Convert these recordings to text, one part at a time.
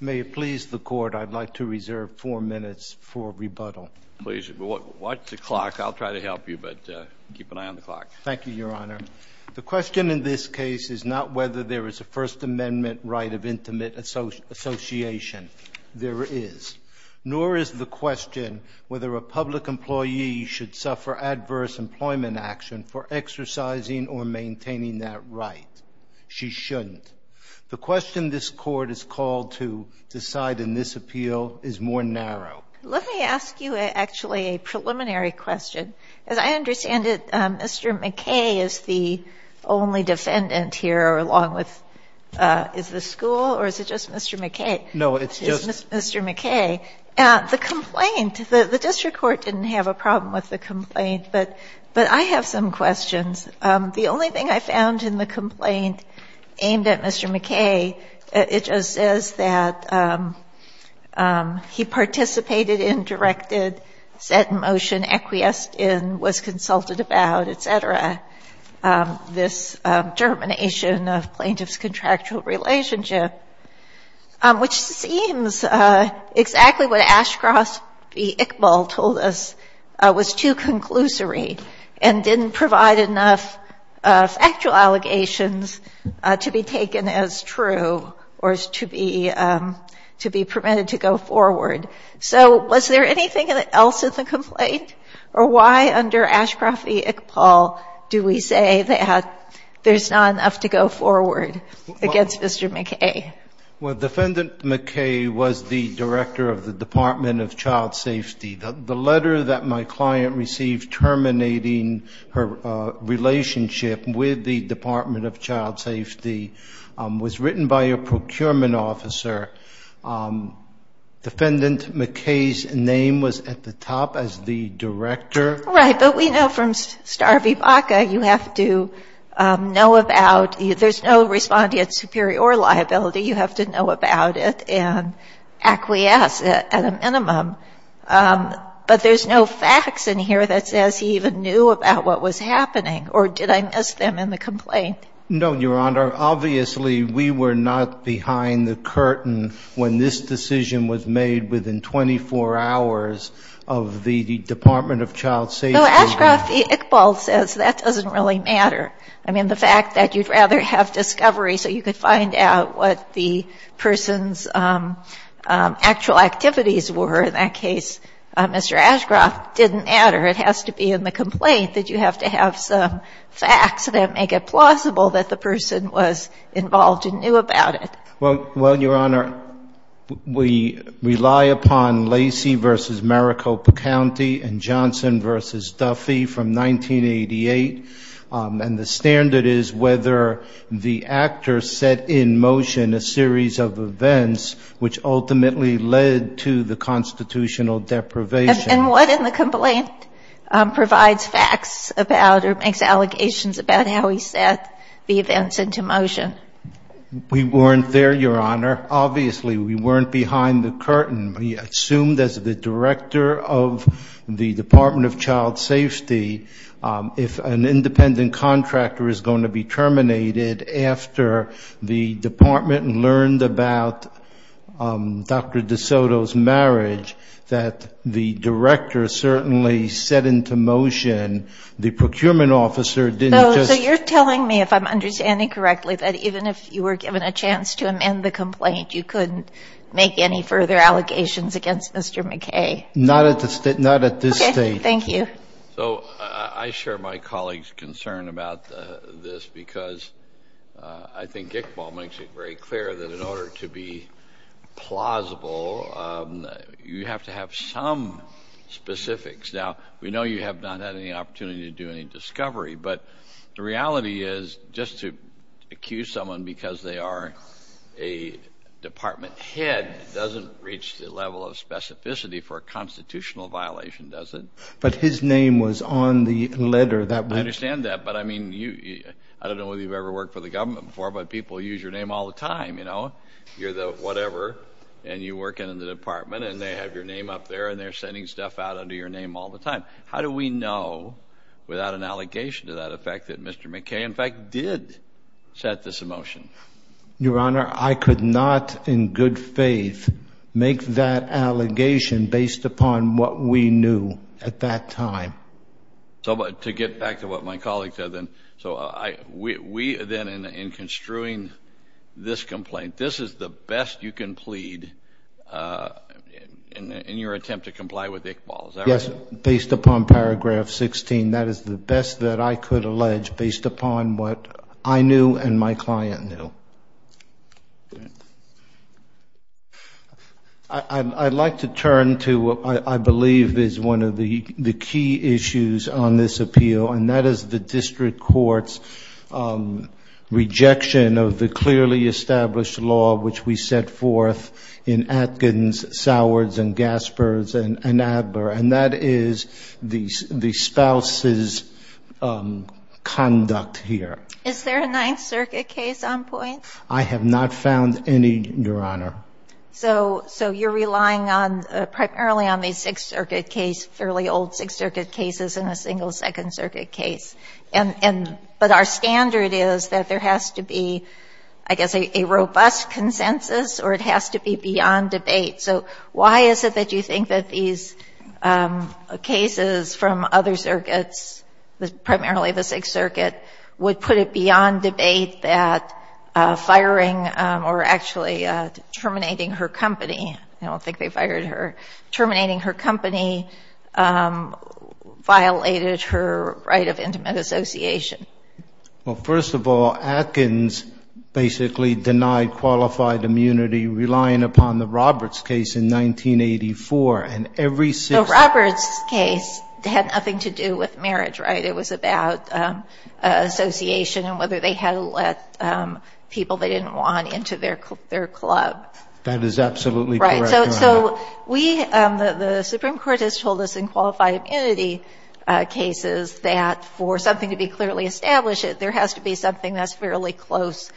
May it please the Court, I'd like to reserve four minutes for rebuttal. Please, watch the clock. I'll try to help you, but keep an eye on the clock. Thank you, Your Honor. The question in this case is not whether there is a First Amendment right of intimate association. There is. Nor is the question whether a public employee should suffer adverse employment action for exercising or maintaining that right. She shouldn't. The question this Court is called to decide in this appeal is more narrow. Let me ask you, actually, a preliminary question. As I understand it, Mr. McKay is the only defendant here, along with the school, or is it just Mr. McKay? No, it's just Mr. McKay. The complaint, the district court didn't have a problem with the complaint, but I have some questions. The only thing I found in the complaint aimed at Mr. McKay, it just says that he participated in, directed, set in motion, acquiesced in, was consulted about, et cetera, this germination of plaintiff's contractual relationship, which seems exactly what Ashcroft v. Iqbal told us was too conclusory and didn't provide enough factual allegations to be taken as true or to be permitted to go forward. So was there anything else in the complaint? Or why under Ashcroft v. Iqbal do we say that there's not enough to go forward against Mr. McKay? Well, Defendant McKay was the director of the Department of Child Safety. The letter that my client received terminating her relationship with the Department of Child Safety was written by a procurement officer. Defendant McKay's name was at the top as the director. Right. But we know from Star v. Baca you have to know about, there's no respondeat superior liability, you have to know about it and acquiesce at a minimum. But there's no facts in here that says he even knew about what was happening, or did I miss them in the complaint? No, Your Honor. Obviously, we were not behind the curtain when this decision was made within 24 hours of the Department of Child Safety. No, Ashcroft v. Iqbal says that doesn't really matter. I mean, the fact that you'd rather have discovery so you could find out what the person's actual activities were in that case, Mr. Ashcroft, didn't matter. It has to be in the complaint that you have to have some facts that make it plausible that the person was involved and knew about it. Well, Your Honor, we rely upon Lacey v. Maricopa County and Johnson v. Duffy from 1988. And the standard is whether the actor set in motion a series of events which ultimately led to the constitutional deprivation. And what in the complaint provides facts about or makes allegations about how he set the events into motion? We weren't there, Your Honor. Obviously, we weren't behind the curtain. We assumed, as the director of the Department of Child Safety, if an independent contractor is going to be terminated after the department learned about Dr. DeSoto's marriage, that the director certainly set into motion the procurement officer didn't just You're telling me, if I'm understanding correctly, that even if you were given a chance to amend the complaint, you couldn't make any further allegations against Mr. McKay? Not at this stage. Thank you. So I share my colleague's concern about this because I think Iqbal makes it very clear that in order to be plausible, you have to have some specifics. Now, we know you have not had any opportunity to do any discovery. But the reality is, just to accuse someone because they are a department head doesn't reach the level of specificity for a constitutional violation, does it? But his name was on the letter that we I understand that, but I mean, I don't know whether you've ever worked for the government before, but people use your name all the time, you know. You're the whatever, and you work in the department, and they have your name up there, and they're sending stuff out under your name all the time. How do we know without an allegation to that effect that Mr. McKay, in fact, did set this in motion? Your Honor, I could not in good faith make that allegation based upon what we knew at that time. So to get back to what my colleague said then, so we then in construing this complaint, this is the best you can plead in your attempt to comply with Iqbal, is that right? Yes, based upon paragraph 16. That is the best that I could allege based upon what I knew and my client knew. I'd like to turn to what I believe is one of the key issues on this appeal, and that is the district court's rejection of the clearly established law which we set forth in Atkins, Sowards, and Gaspers, and Abler, and that is the spouse's conduct here. Is there a Ninth Circuit case on point? I have not found any, Your Honor. So you're relying primarily on the Sixth Circuit case, fairly old Sixth Circuit cases, and a single Second Circuit case. But our standard is that there has to be, I guess, a robust consensus, or it has to be beyond debate. So why is it that you think that these cases from other circuits, primarily the Sixth Circuit, would put it beyond debate that firing or actually terminating her company, I don't think they fired her, terminating her company violated her right of intimate association? Well, first of all, Atkins basically denied qualified immunity relying upon the Roberts case in 1984, and every Sixth Circuit case... The Roberts case had nothing to do with marriage, right? It was about association and whether they had let people they didn't want into their club. Right. So we, the Supreme Court has told us in qualified immunity cases that for something to be clearly established, there has to be something that's fairly close,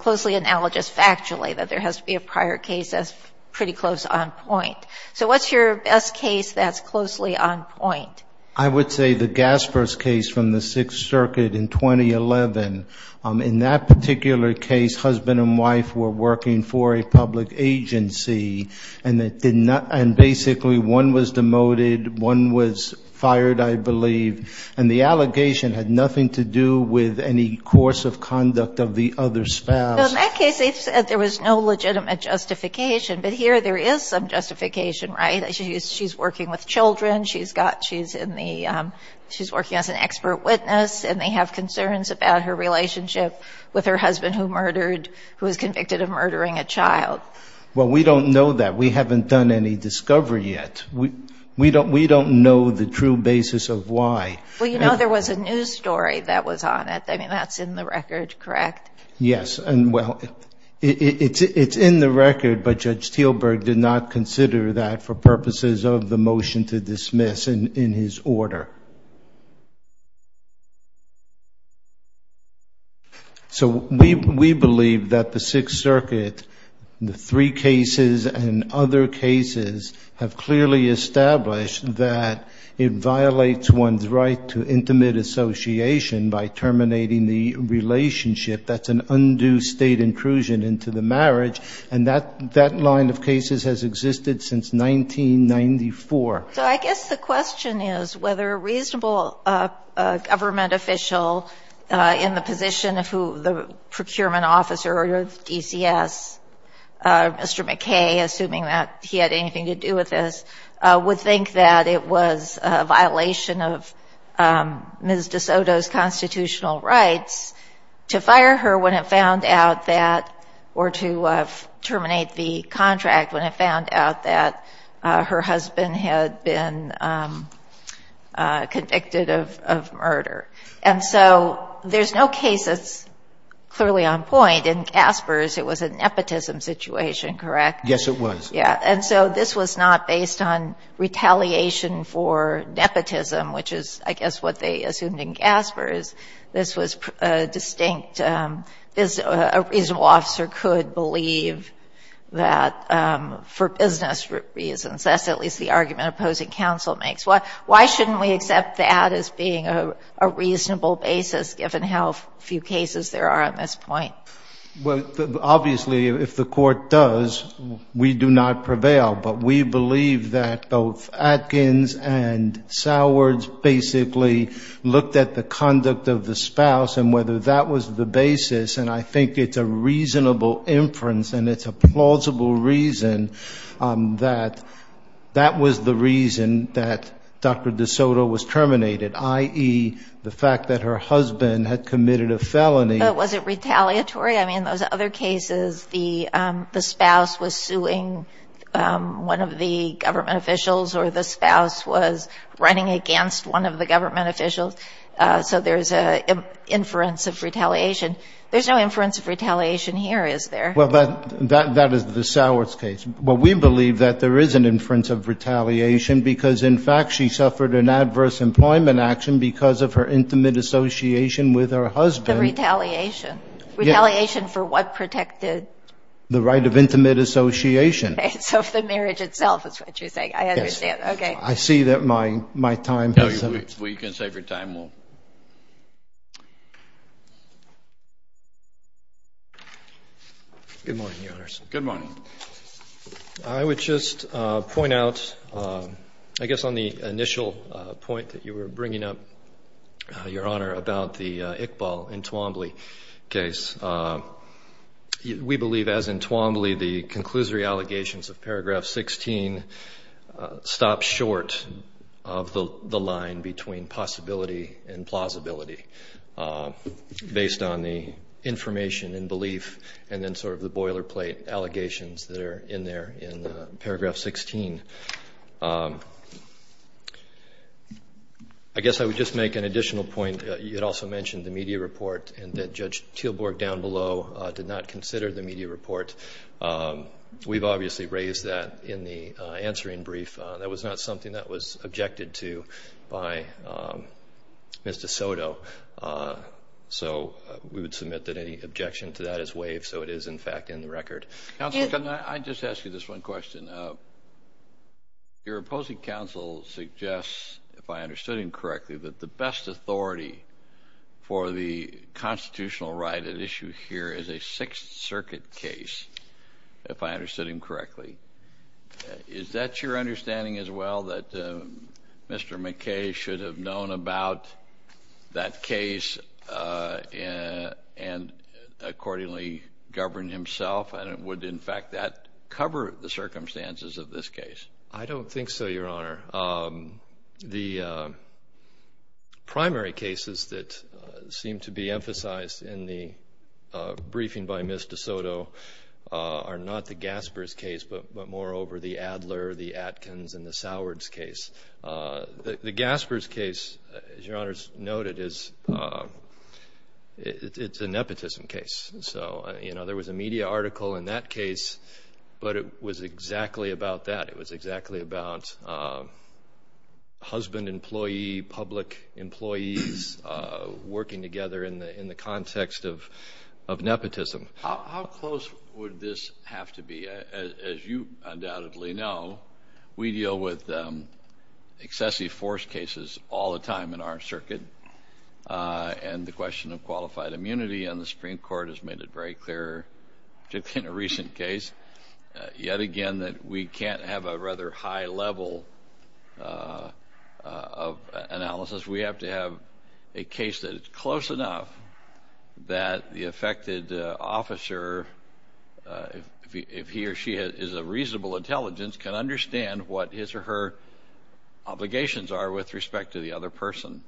closely analogous factually, that there has to be a prior case that's pretty close on point. So what's your best case that's closely on point? I would say the Gaspers case from the Sixth Circuit in 2011. In that particular case, husband and wife were working for a public agency, and basically one was demoted, one was fired, I believe, and the allegation had nothing to do with any course of conduct of the other spouse. In that case, they said there was no legitimate justification, but here there is some justification, right? She's working with children, she's working as an expert witness, and they have concerns about her relationship with her husband who murdered, who was convicted of murdering a child. Well, we don't know that. We haven't done any discovery yet. We don't know the true basis of why. Well, you know there was a news story that was on it. I mean, that's in the record, correct? Yes, and well, it's in the record, but Judge Teelberg did not consider that for purposes of the motion to dismiss in his order. So we believe that the Sixth Circuit, the three cases and other cases, have clearly established that it violates one's right to intimate association by terminating the relationship. That's an undue state intrusion into the marriage, and that line of cases has existed since 1994. So I guess the question is whether a reasonable government official in the position of who the procurement officer of DCS, Mr. McKay, assuming that he had anything to do with this, would think that it was a violation of Ms. DeSoto's constitutional rights to fire her when it found out that, or to terminate the contract when it found out that her husband had been convicted of murder. And so there's no case that's clearly on point. In Gaspers, it was a nepotism situation, correct? Yes, it was. Yeah, and so this was not based on retaliation for nepotism, which is, I guess, what they assumed in Gaspers. This was distinct. A reasonable officer could believe that for business reasons. That's at least the argument opposing counsel makes. Why shouldn't we accept that as being a reasonable basis, given how few cases there are on this point? Well, obviously, if the Court does, we do not prevail. But we believe that both Atkins and Sowards basically looked at the conduct of the spouse and whether that was the basis, and I think it's a reasonable inference and it's a plausible reason that that was the reason that Dr. DeSoto was terminated, i.e., the fact that her husband had committed a felony. Was it retaliatory? I mean, in those other cases, the spouse was suing one of the government officials or the spouse was running against one of the government officials, so there's an inference of retaliation. There's no inference of retaliation here, is there? Well, that is the Sowards case. Well, we believe that there is an inference of retaliation because, in fact, she suffered an adverse employment action because of her intimate association with her husband. The retaliation. Retaliation for what protected? The right of intimate association. Okay. So if the marriage itself is what you're saying, I understand. Yes. Okay. I see that my time has come. No, you can save your time. Good morning, Your Honors. Good morning. I would just point out, I guess on the initial point that you were bringing up, Your Honor, about the Iqbal Entwambly case, we believe, as Entwambly, the conclusory allegations of Paragraph 16 stop short of the line between possibility and plausibility based on the information and belief and then sort of the boilerplate allegations that are in there in Paragraph 16. I guess I would just make an additional point. You had also mentioned the media report and that Judge Teelborg down below did not consider the media report. We've obviously raised that in the answering brief. That was not something that was objected to by Mr. Soto, so we would submit that any objection to that is waived so it is, in fact, in the record. Counselor, can I just ask you this one question? Your opposing counsel suggests, if I understood him correctly, that the best authority for the constitutional right at issue here is a Sixth Circuit case, if I understood him correctly. Is that your understanding as well, that Mr. McKay should have known about that case and accordingly governed himself? And would, in fact, that cover the circumstances of this case? I don't think so, Your Honor. The primary cases that seem to be emphasized in the briefing by Ms. DeSoto are not the Gaspers case, but moreover the Adler, the Atkins, and the Sowards case. The Gaspers case, as Your Honor has noted, is a nepotism case. There was a media article in that case, but it was exactly about that. It was exactly about husband, employee, public employees working together in the context of nepotism. How close would this have to be? As you undoubtedly know, we deal with excessive force cases all the time in our circuit, and the question of qualified immunity on the Supreme Court has made it very clear, particularly in a recent case, yet again, that we can't have a rather high level of analysis. We have to have a case that is close enough that the affected officer, if he or she is of reasonable intelligence, can understand what his or her obligations are with respect to the other person.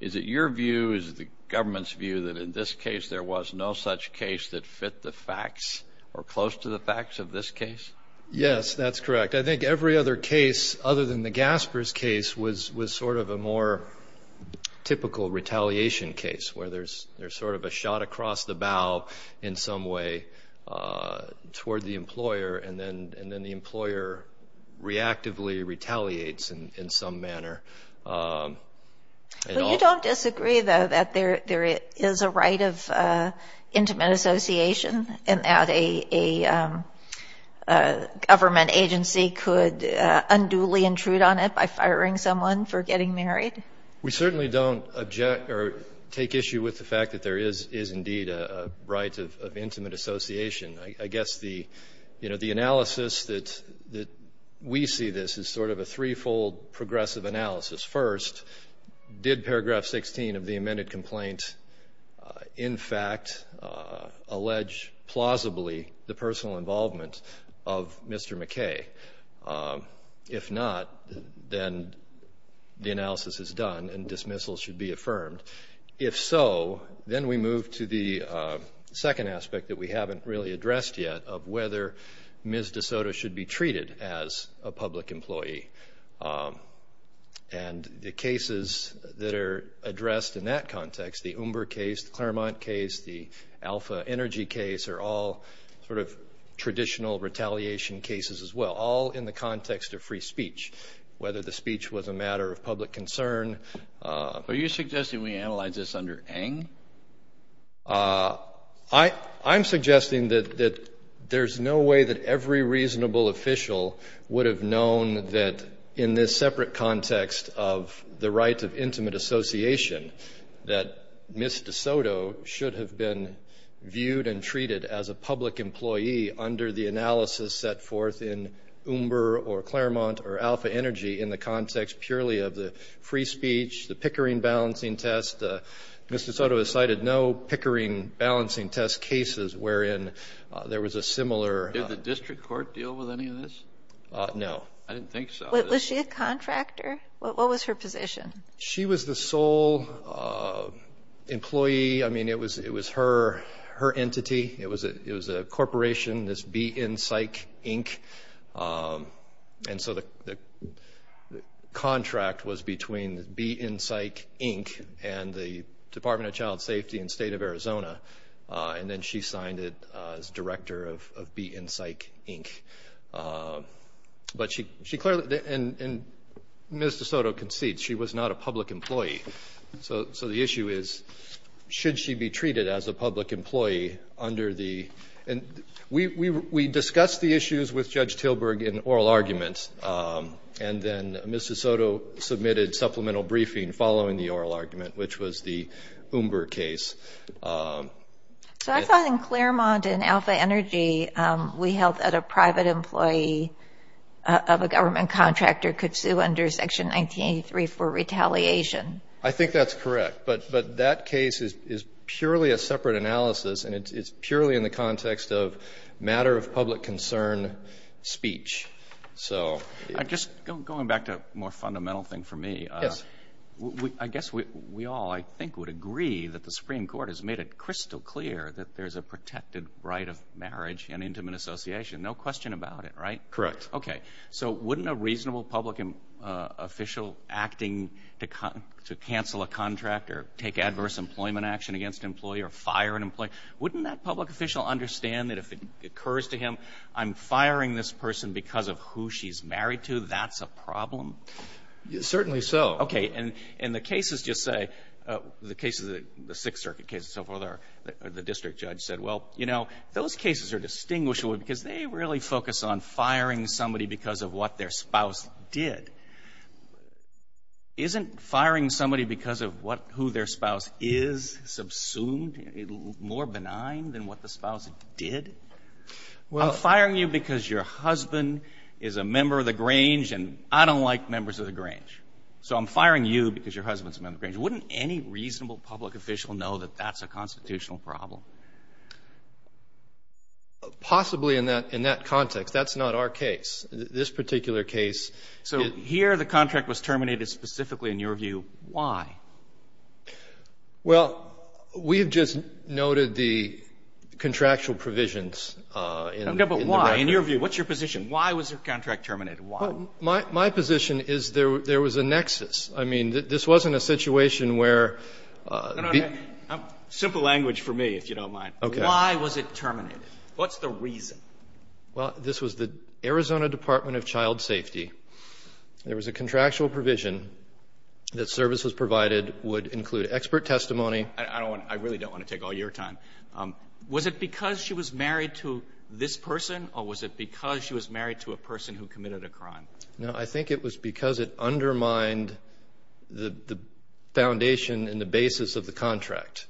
Is it your view, is it the government's view, that in this case there was no such case that fit the facts or close to the facts of this case? Yes, that's correct. I think every other case other than the Gaspers case was sort of a more typical retaliation case where there's sort of a shot across the bow in some way toward the employer, and then the employer reactively retaliates in some manner. You don't disagree, though, that there is a right of intimate association and that a government agency could unduly intrude on it by firing someone for getting married? We certainly don't object or take issue with the fact that there is indeed a right of intimate association. I guess the analysis that we see this as sort of a threefold progressive analysis. First, did paragraph 16 of the amended complaint, in fact, allege plausibly the personal involvement of Mr. McKay? If not, then the analysis is done and dismissal should be affirmed. If so, then we move to the second aspect that we haven't really addressed yet of whether Ms. DeSoto should be treated as a public employee. And the cases that are addressed in that context, the Umber case, the Claremont case, the Alpha Energy case are all sort of traditional retaliation cases as well, all in the context of free speech, whether the speech was a matter of public concern. Are you suggesting we analyze this under Eng? I'm suggesting that there's no way that every reasonable official would have known that in this separate context of the right of intimate association, that Ms. DeSoto should have been viewed and treated as a public employee under the analysis set forth in Umber or Claremont or Alpha Energy in the context purely of the free speech, the Pickering balancing test. Ms. DeSoto has cited no Pickering balancing test cases wherein there was a similar. Did the district court deal with any of this? No. I didn't think so. Was she a contractor? What was her position? She was the sole employee. I mean, it was her entity. It was a corporation, this Be In Psych, Inc. And so the contract was between Be In Psych, Inc. and the Department of Child Safety in the state of Arizona. And then she signed it as director of Be In Psych, Inc. And Ms. DeSoto concedes she was not a public employee. So the issue is, should she be treated as a public employee under the – and we discussed the issues with Judge Tilburg in oral arguments, and then Ms. DeSoto submitted supplemental briefing following the oral argument, which was the Umber case. So I thought in Claremont and Alpha Energy we held that a private employee of a government contractor could sue under Section 1983 for retaliation. I think that's correct, but that case is purely a separate analysis, and it's purely in the context of matter of public concern speech. Just going back to a more fundamental thing for me. Yes. I guess we all, I think, would agree that the Supreme Court has made it crystal clear that there's a protected right of marriage in intimate association. No question about it, right? Correct. Okay. So wouldn't a reasonable public official acting to cancel a contract or take adverse employment action against an employee or fire an employee, wouldn't that public official understand that if it occurs to him, I'm firing this person because of who she's married to, that's a problem? Certainly so. Okay. And the cases just say, the cases of the Sixth Circuit case and so forth, the district judge said, well, you know, those cases are distinguishable because they really focus on firing somebody because of what their spouse did. Isn't firing somebody because of what – who their spouse is subsumed more benign than what the spouse did? I'm firing you because your husband is a member of the Grange and I don't like members of the Grange. So I'm firing you because your husband's a member of the Grange. Wouldn't any reasonable public official know that that's a constitutional problem? Possibly in that context. That's not our case. This particular case – So here the contract was terminated specifically in your view. Why? Well, we have just noted the contractual provisions in the record. No, but why? In your view, what's your position? Why was the contract terminated? Why? My position is there was a nexus. I mean, this wasn't a situation where – No, no, no. Simple language for me, if you don't mind. Okay. Why was it terminated? What's the reason? Well, this was the Arizona Department of Child Safety. There was a contractual provision that services provided would include expert testimony. I really don't want to take all your time. Was it because she was married to this person or was it because she was married to a person who committed a crime? No, I think it was because it undermined the foundation and the basis of the contract.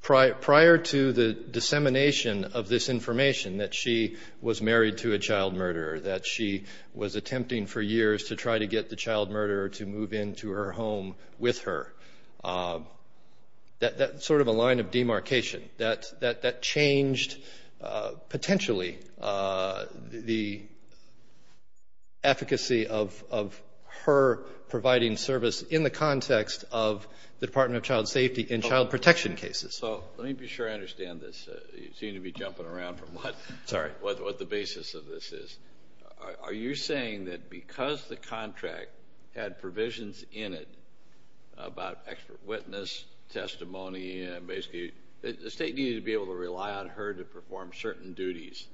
Prior to the dissemination of this information that she was married to a child murderer, that she was attempting for years to try to get the child murderer to move into her home with her. That's sort of a line of demarcation. That changed potentially the efficacy of her providing service in the context of the Department of Child Safety and child protection cases. So let me be sure I understand this. You seem to be jumping around from what the basis of this is. Are you saying that because the contract had provisions in it about expert witness, testimony, and basically the state needed to be able to rely on her to perform certain duties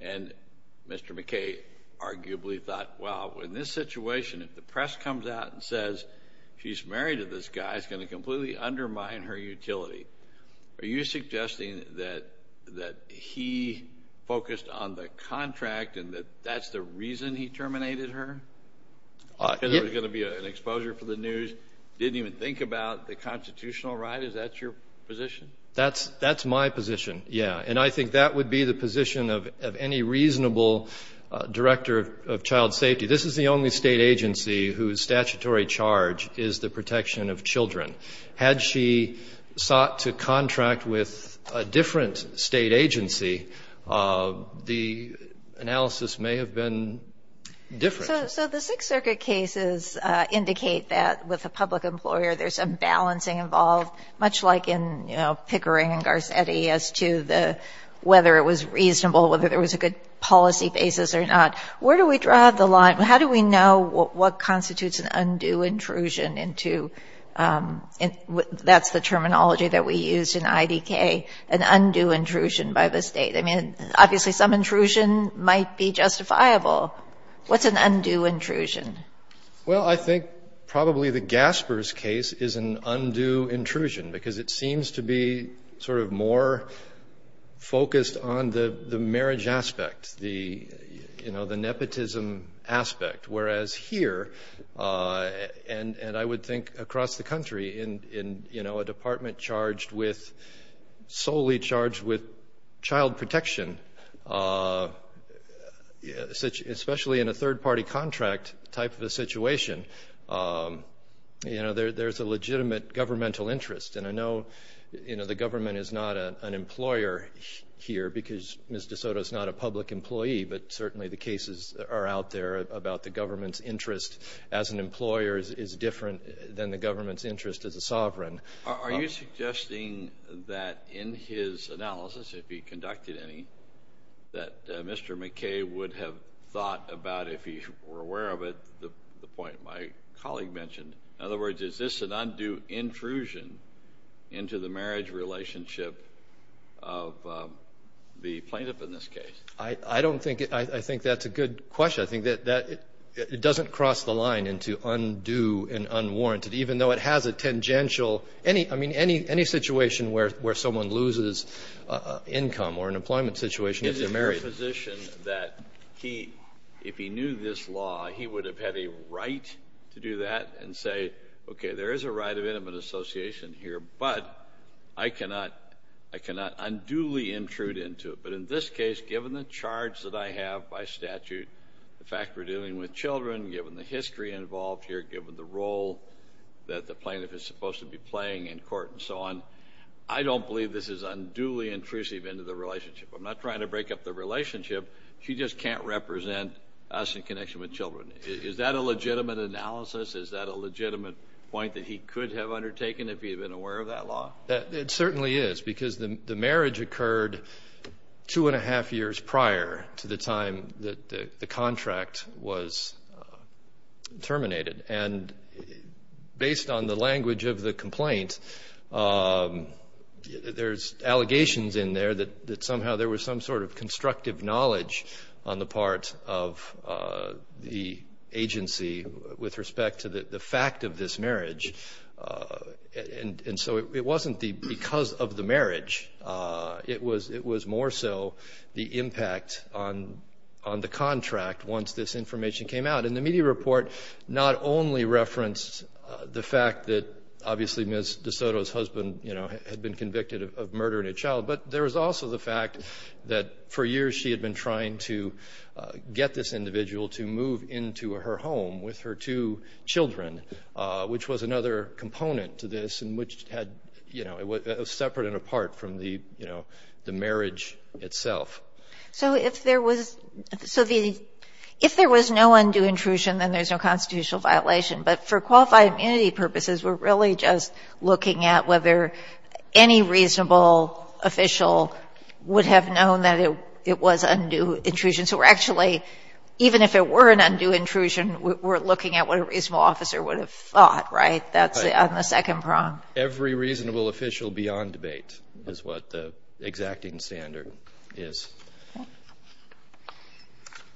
and Mr. McKay arguably thought, well, in this situation, if the press comes out and says she's married to this guy, it's going to completely undermine her utility. Are you suggesting that he focused on the contract and that that's the reason he terminated her? Because there was going to be an exposure for the news, didn't even think about the constitutional right? Is that your position? That's my position, yeah. And I think that would be the position of any reasonable director of child safety. This is the only state agency whose statutory charge is the protection of children. Had she sought to contract with a different state agency, the analysis may have been different. So the Sixth Circuit cases indicate that with a public employer there's a balancing involved, much like in Pickering and Garcetti as to whether it was reasonable, whether there was a good policy basis or not. Where do we draw the line? How do we know what constitutes an undue intrusion into, that's the terminology that we use in IDK, an undue intrusion by the state? I mean, obviously some intrusion might be justifiable. What's an undue intrusion? Well, I think probably the Gaspers case is an undue intrusion because it seems to be sort of more focused on the marriage aspect, the nepotism aspect. Whereas here, and I would think across the country, in a department charged with, solely charged with child protection, especially in a third-party contract type of a situation, there's a legitimate governmental interest. And I know the government is not an employer here because Ms. DeSoto is not a public employee, but certainly the cases are out there about the government's interest as an employer is different than the government's interest as a sovereign. Are you suggesting that in his analysis, if he conducted any, that Mr. McKay would have thought about, if he were aware of it, the point my colleague mentioned? In other words, is this an undue intrusion into the marriage relationship of the plaintiff in this case? I don't think – I think that's a good question. I think that it doesn't cross the line into undue and unwarranted, even though it has a tangential – I mean, any situation where someone loses income or an employment situation if they're married. I'm in the position that if he knew this law, he would have had a right to do that and say, okay, there is a right of intimate association here, but I cannot unduly intrude into it. But in this case, given the charge that I have by statute, the fact we're dealing with children, given the history involved here, given the role that the plaintiff is supposed to be playing in court and so on, I don't believe this is unduly intrusive into the relationship. I'm not trying to break up the relationship. She just can't represent us in connection with children. Is that a legitimate analysis? Is that a legitimate point that he could have undertaken if he had been aware of that law? It certainly is, because the marriage occurred two and a half years prior to the time that the contract was terminated. And based on the language of the complaint, there's allegations in there that somehow there was some sort of constructive knowledge on the part of the agency with respect to the fact of this marriage. And so it wasn't because of the marriage. It was more so the impact on the contract once this information came out. And the media report not only referenced the fact that obviously Ms. DeSoto's husband had been convicted of murdering a child, but there was also the fact that for years she had been trying to get this individual to move into her home with her two children, which was another component to this and which was separate and apart from the marriage itself. So if there was no undue intrusion, then there's no constitutional violation. But for qualified immunity purposes, we're really just looking at whether any reasonable official would have known that it was undue intrusion. So we're actually, even if it were an undue intrusion, we're looking at what a reasonable officer would have thought, right? That's on the second prong. Every reasonable official beyond debate is what the exacting standard is. I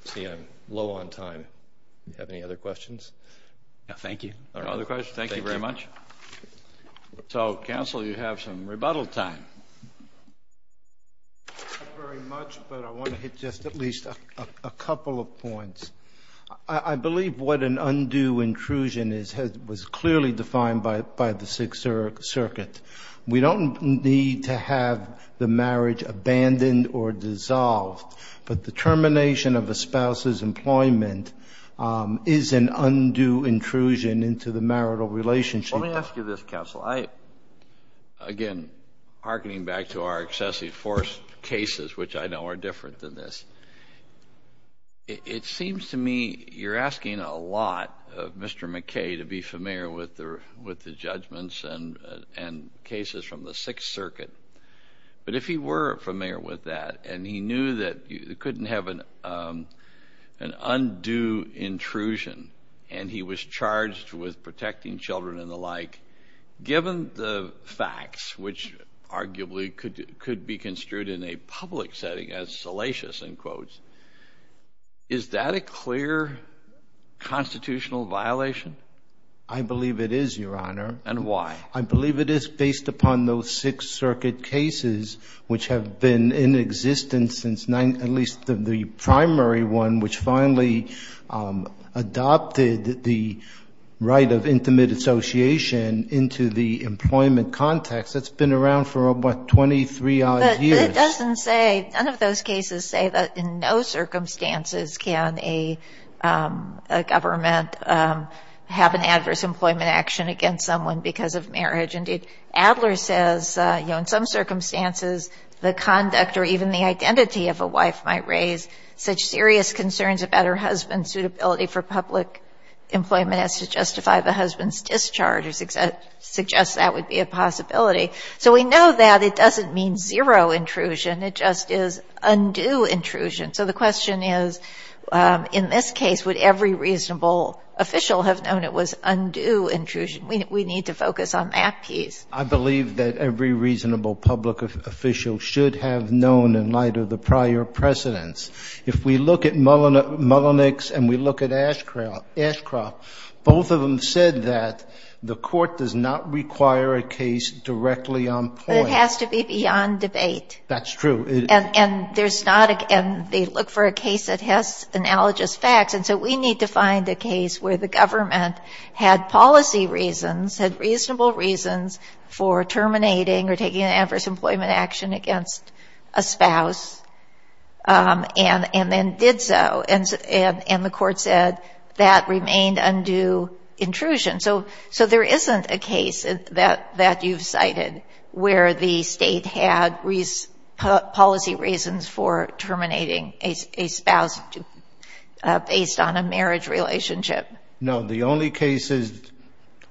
see I'm low on time. Do you have any other questions? No, thank you. No other questions? Thank you very much. So, counsel, you have some rebuttal time. Thank you very much, but I want to hit just at least a couple of points. I believe what an undue intrusion is was clearly defined by the Sixth Circuit. We don't need to have the marriage abandoned or dissolved, but the termination of a spouse's employment is an undue intrusion into the marital relationship. Let me ask you this, counsel. Again, hearkening back to our excessive force cases, which I know are different than this. It seems to me you're asking a lot of Mr. McKay to be familiar with the judgments and cases from the Sixth Circuit. But if he were familiar with that and he knew that you couldn't have an undue intrusion and he was charged with protecting children and the like, given the facts, which arguably could be construed in a public setting as salacious, in quotes, is that a clear constitutional violation? I believe it is, Your Honor. And why? I believe it is based upon those Sixth Circuit cases, which have been in existence since at least the primary one, which finally adopted the right of intimate association into the employment context. That's been around for, what, 23-odd years. But it doesn't say, none of those cases say that in no circumstances can a government have an adverse employment action against someone because of marriage. Indeed, Adler says, you know, in some circumstances, the conduct or even the identity of a wife might raise such serious concerns about her husband's suitability for public employment as to justify the husband's discharge or suggest that would be a possibility. So we know that it doesn't mean zero intrusion. It just is undue intrusion. So the question is, in this case, would every reasonable official have known it was undue intrusion? We need to focus on that piece. I believe that every reasonable public official should have known in light of the prior precedents. If we look at Mullenix and we look at Ashcroft, both of them said that the court does not require a case directly on point. But it has to be beyond debate. That's true. And there's not a case that has analogous facts. And so we need to find a case where the government had policy reasons, had reasonable reasons for terminating or taking an adverse employment action against a spouse and then did so. And the court said that remained undue intrusion. So there isn't a case that you've cited where the state had policy reasons for terminating a spouse based on a marriage relationship. No. The only case is,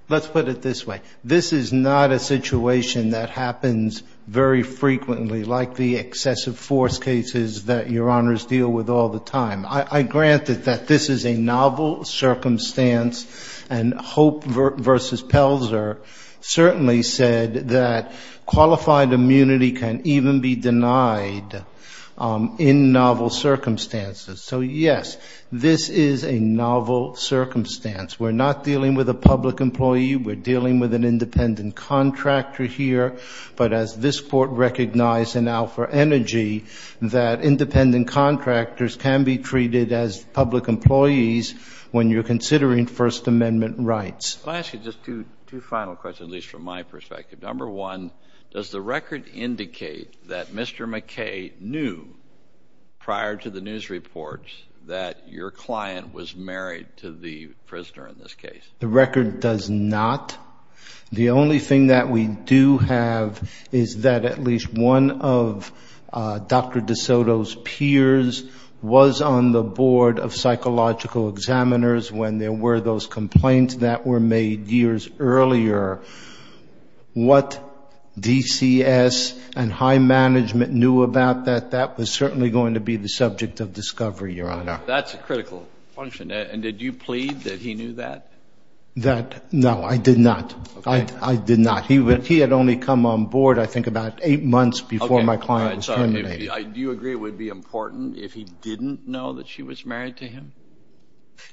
let's put it this way, this is not a situation that happens very frequently, like the excessive force cases that Your Honors deal with all the time. I grant that this is a novel circumstance. And Hope v. Pelzer certainly said that qualified immunity can even be denied in novel circumstances. So, yes, this is a novel circumstance. We're not dealing with a public employee. We're dealing with an independent contractor here. But as this Court recognized in Alpha Energy, that independent contractors can be treated as public employees when you're considering First Amendment rights. Let me ask you just two final questions, at least from my perspective. Number one, does the record indicate that Mr. McKay knew prior to the news reports that your client was married to the prisoner in this case? The record does not. The only thing that we do have is that at least one of Dr. DeSoto's peers was on the board of psychological examiners when there were those complaints that were made years earlier. What DCS and high management knew about that, that was certainly going to be the subject of discovery, Your Honor. That's a critical function. And did you plead that he knew that? No, I did not. I did not. He had only come on board, I think, about eight months before my client was terminated. Do you agree it would be important if he didn't know that she was married to him?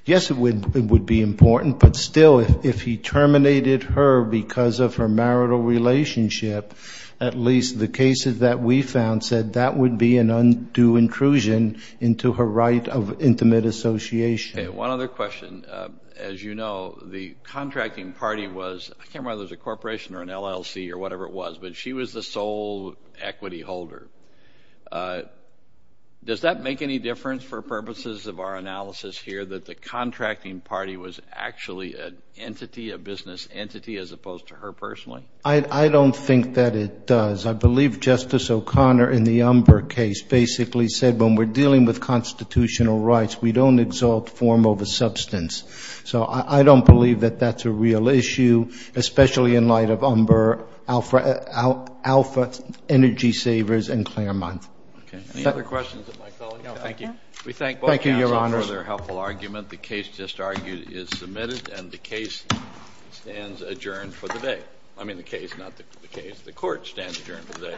Yes, it would be important, but still, if he terminated her because of her marital relationship, at least the cases that we found said that would be an undue intrusion into her right of intimate association. Okay. One other question. As you know, the contracting party was, I can't remember whether it was a corporation or an LLC or whatever it was, but she was the sole equity holder. Does that make any difference for purposes of our analysis here, that the contracting party was actually an entity, a business entity, as opposed to her personally? I don't think that it does. I believe Justice O'Connor in the Umber case basically said when we're dealing with constitutional rights, we don't exalt form over substance. So I don't believe that that's a real issue, especially in light of Umber, Alpha Energy Savers, and Claremont. Okay. Any other questions of my colleague? No, thank you. We thank both counsels for their helpful argument. The case just argued is submitted, and the case stands adjourned for the day. I mean the case, not the case. The court stands adjourned for the day.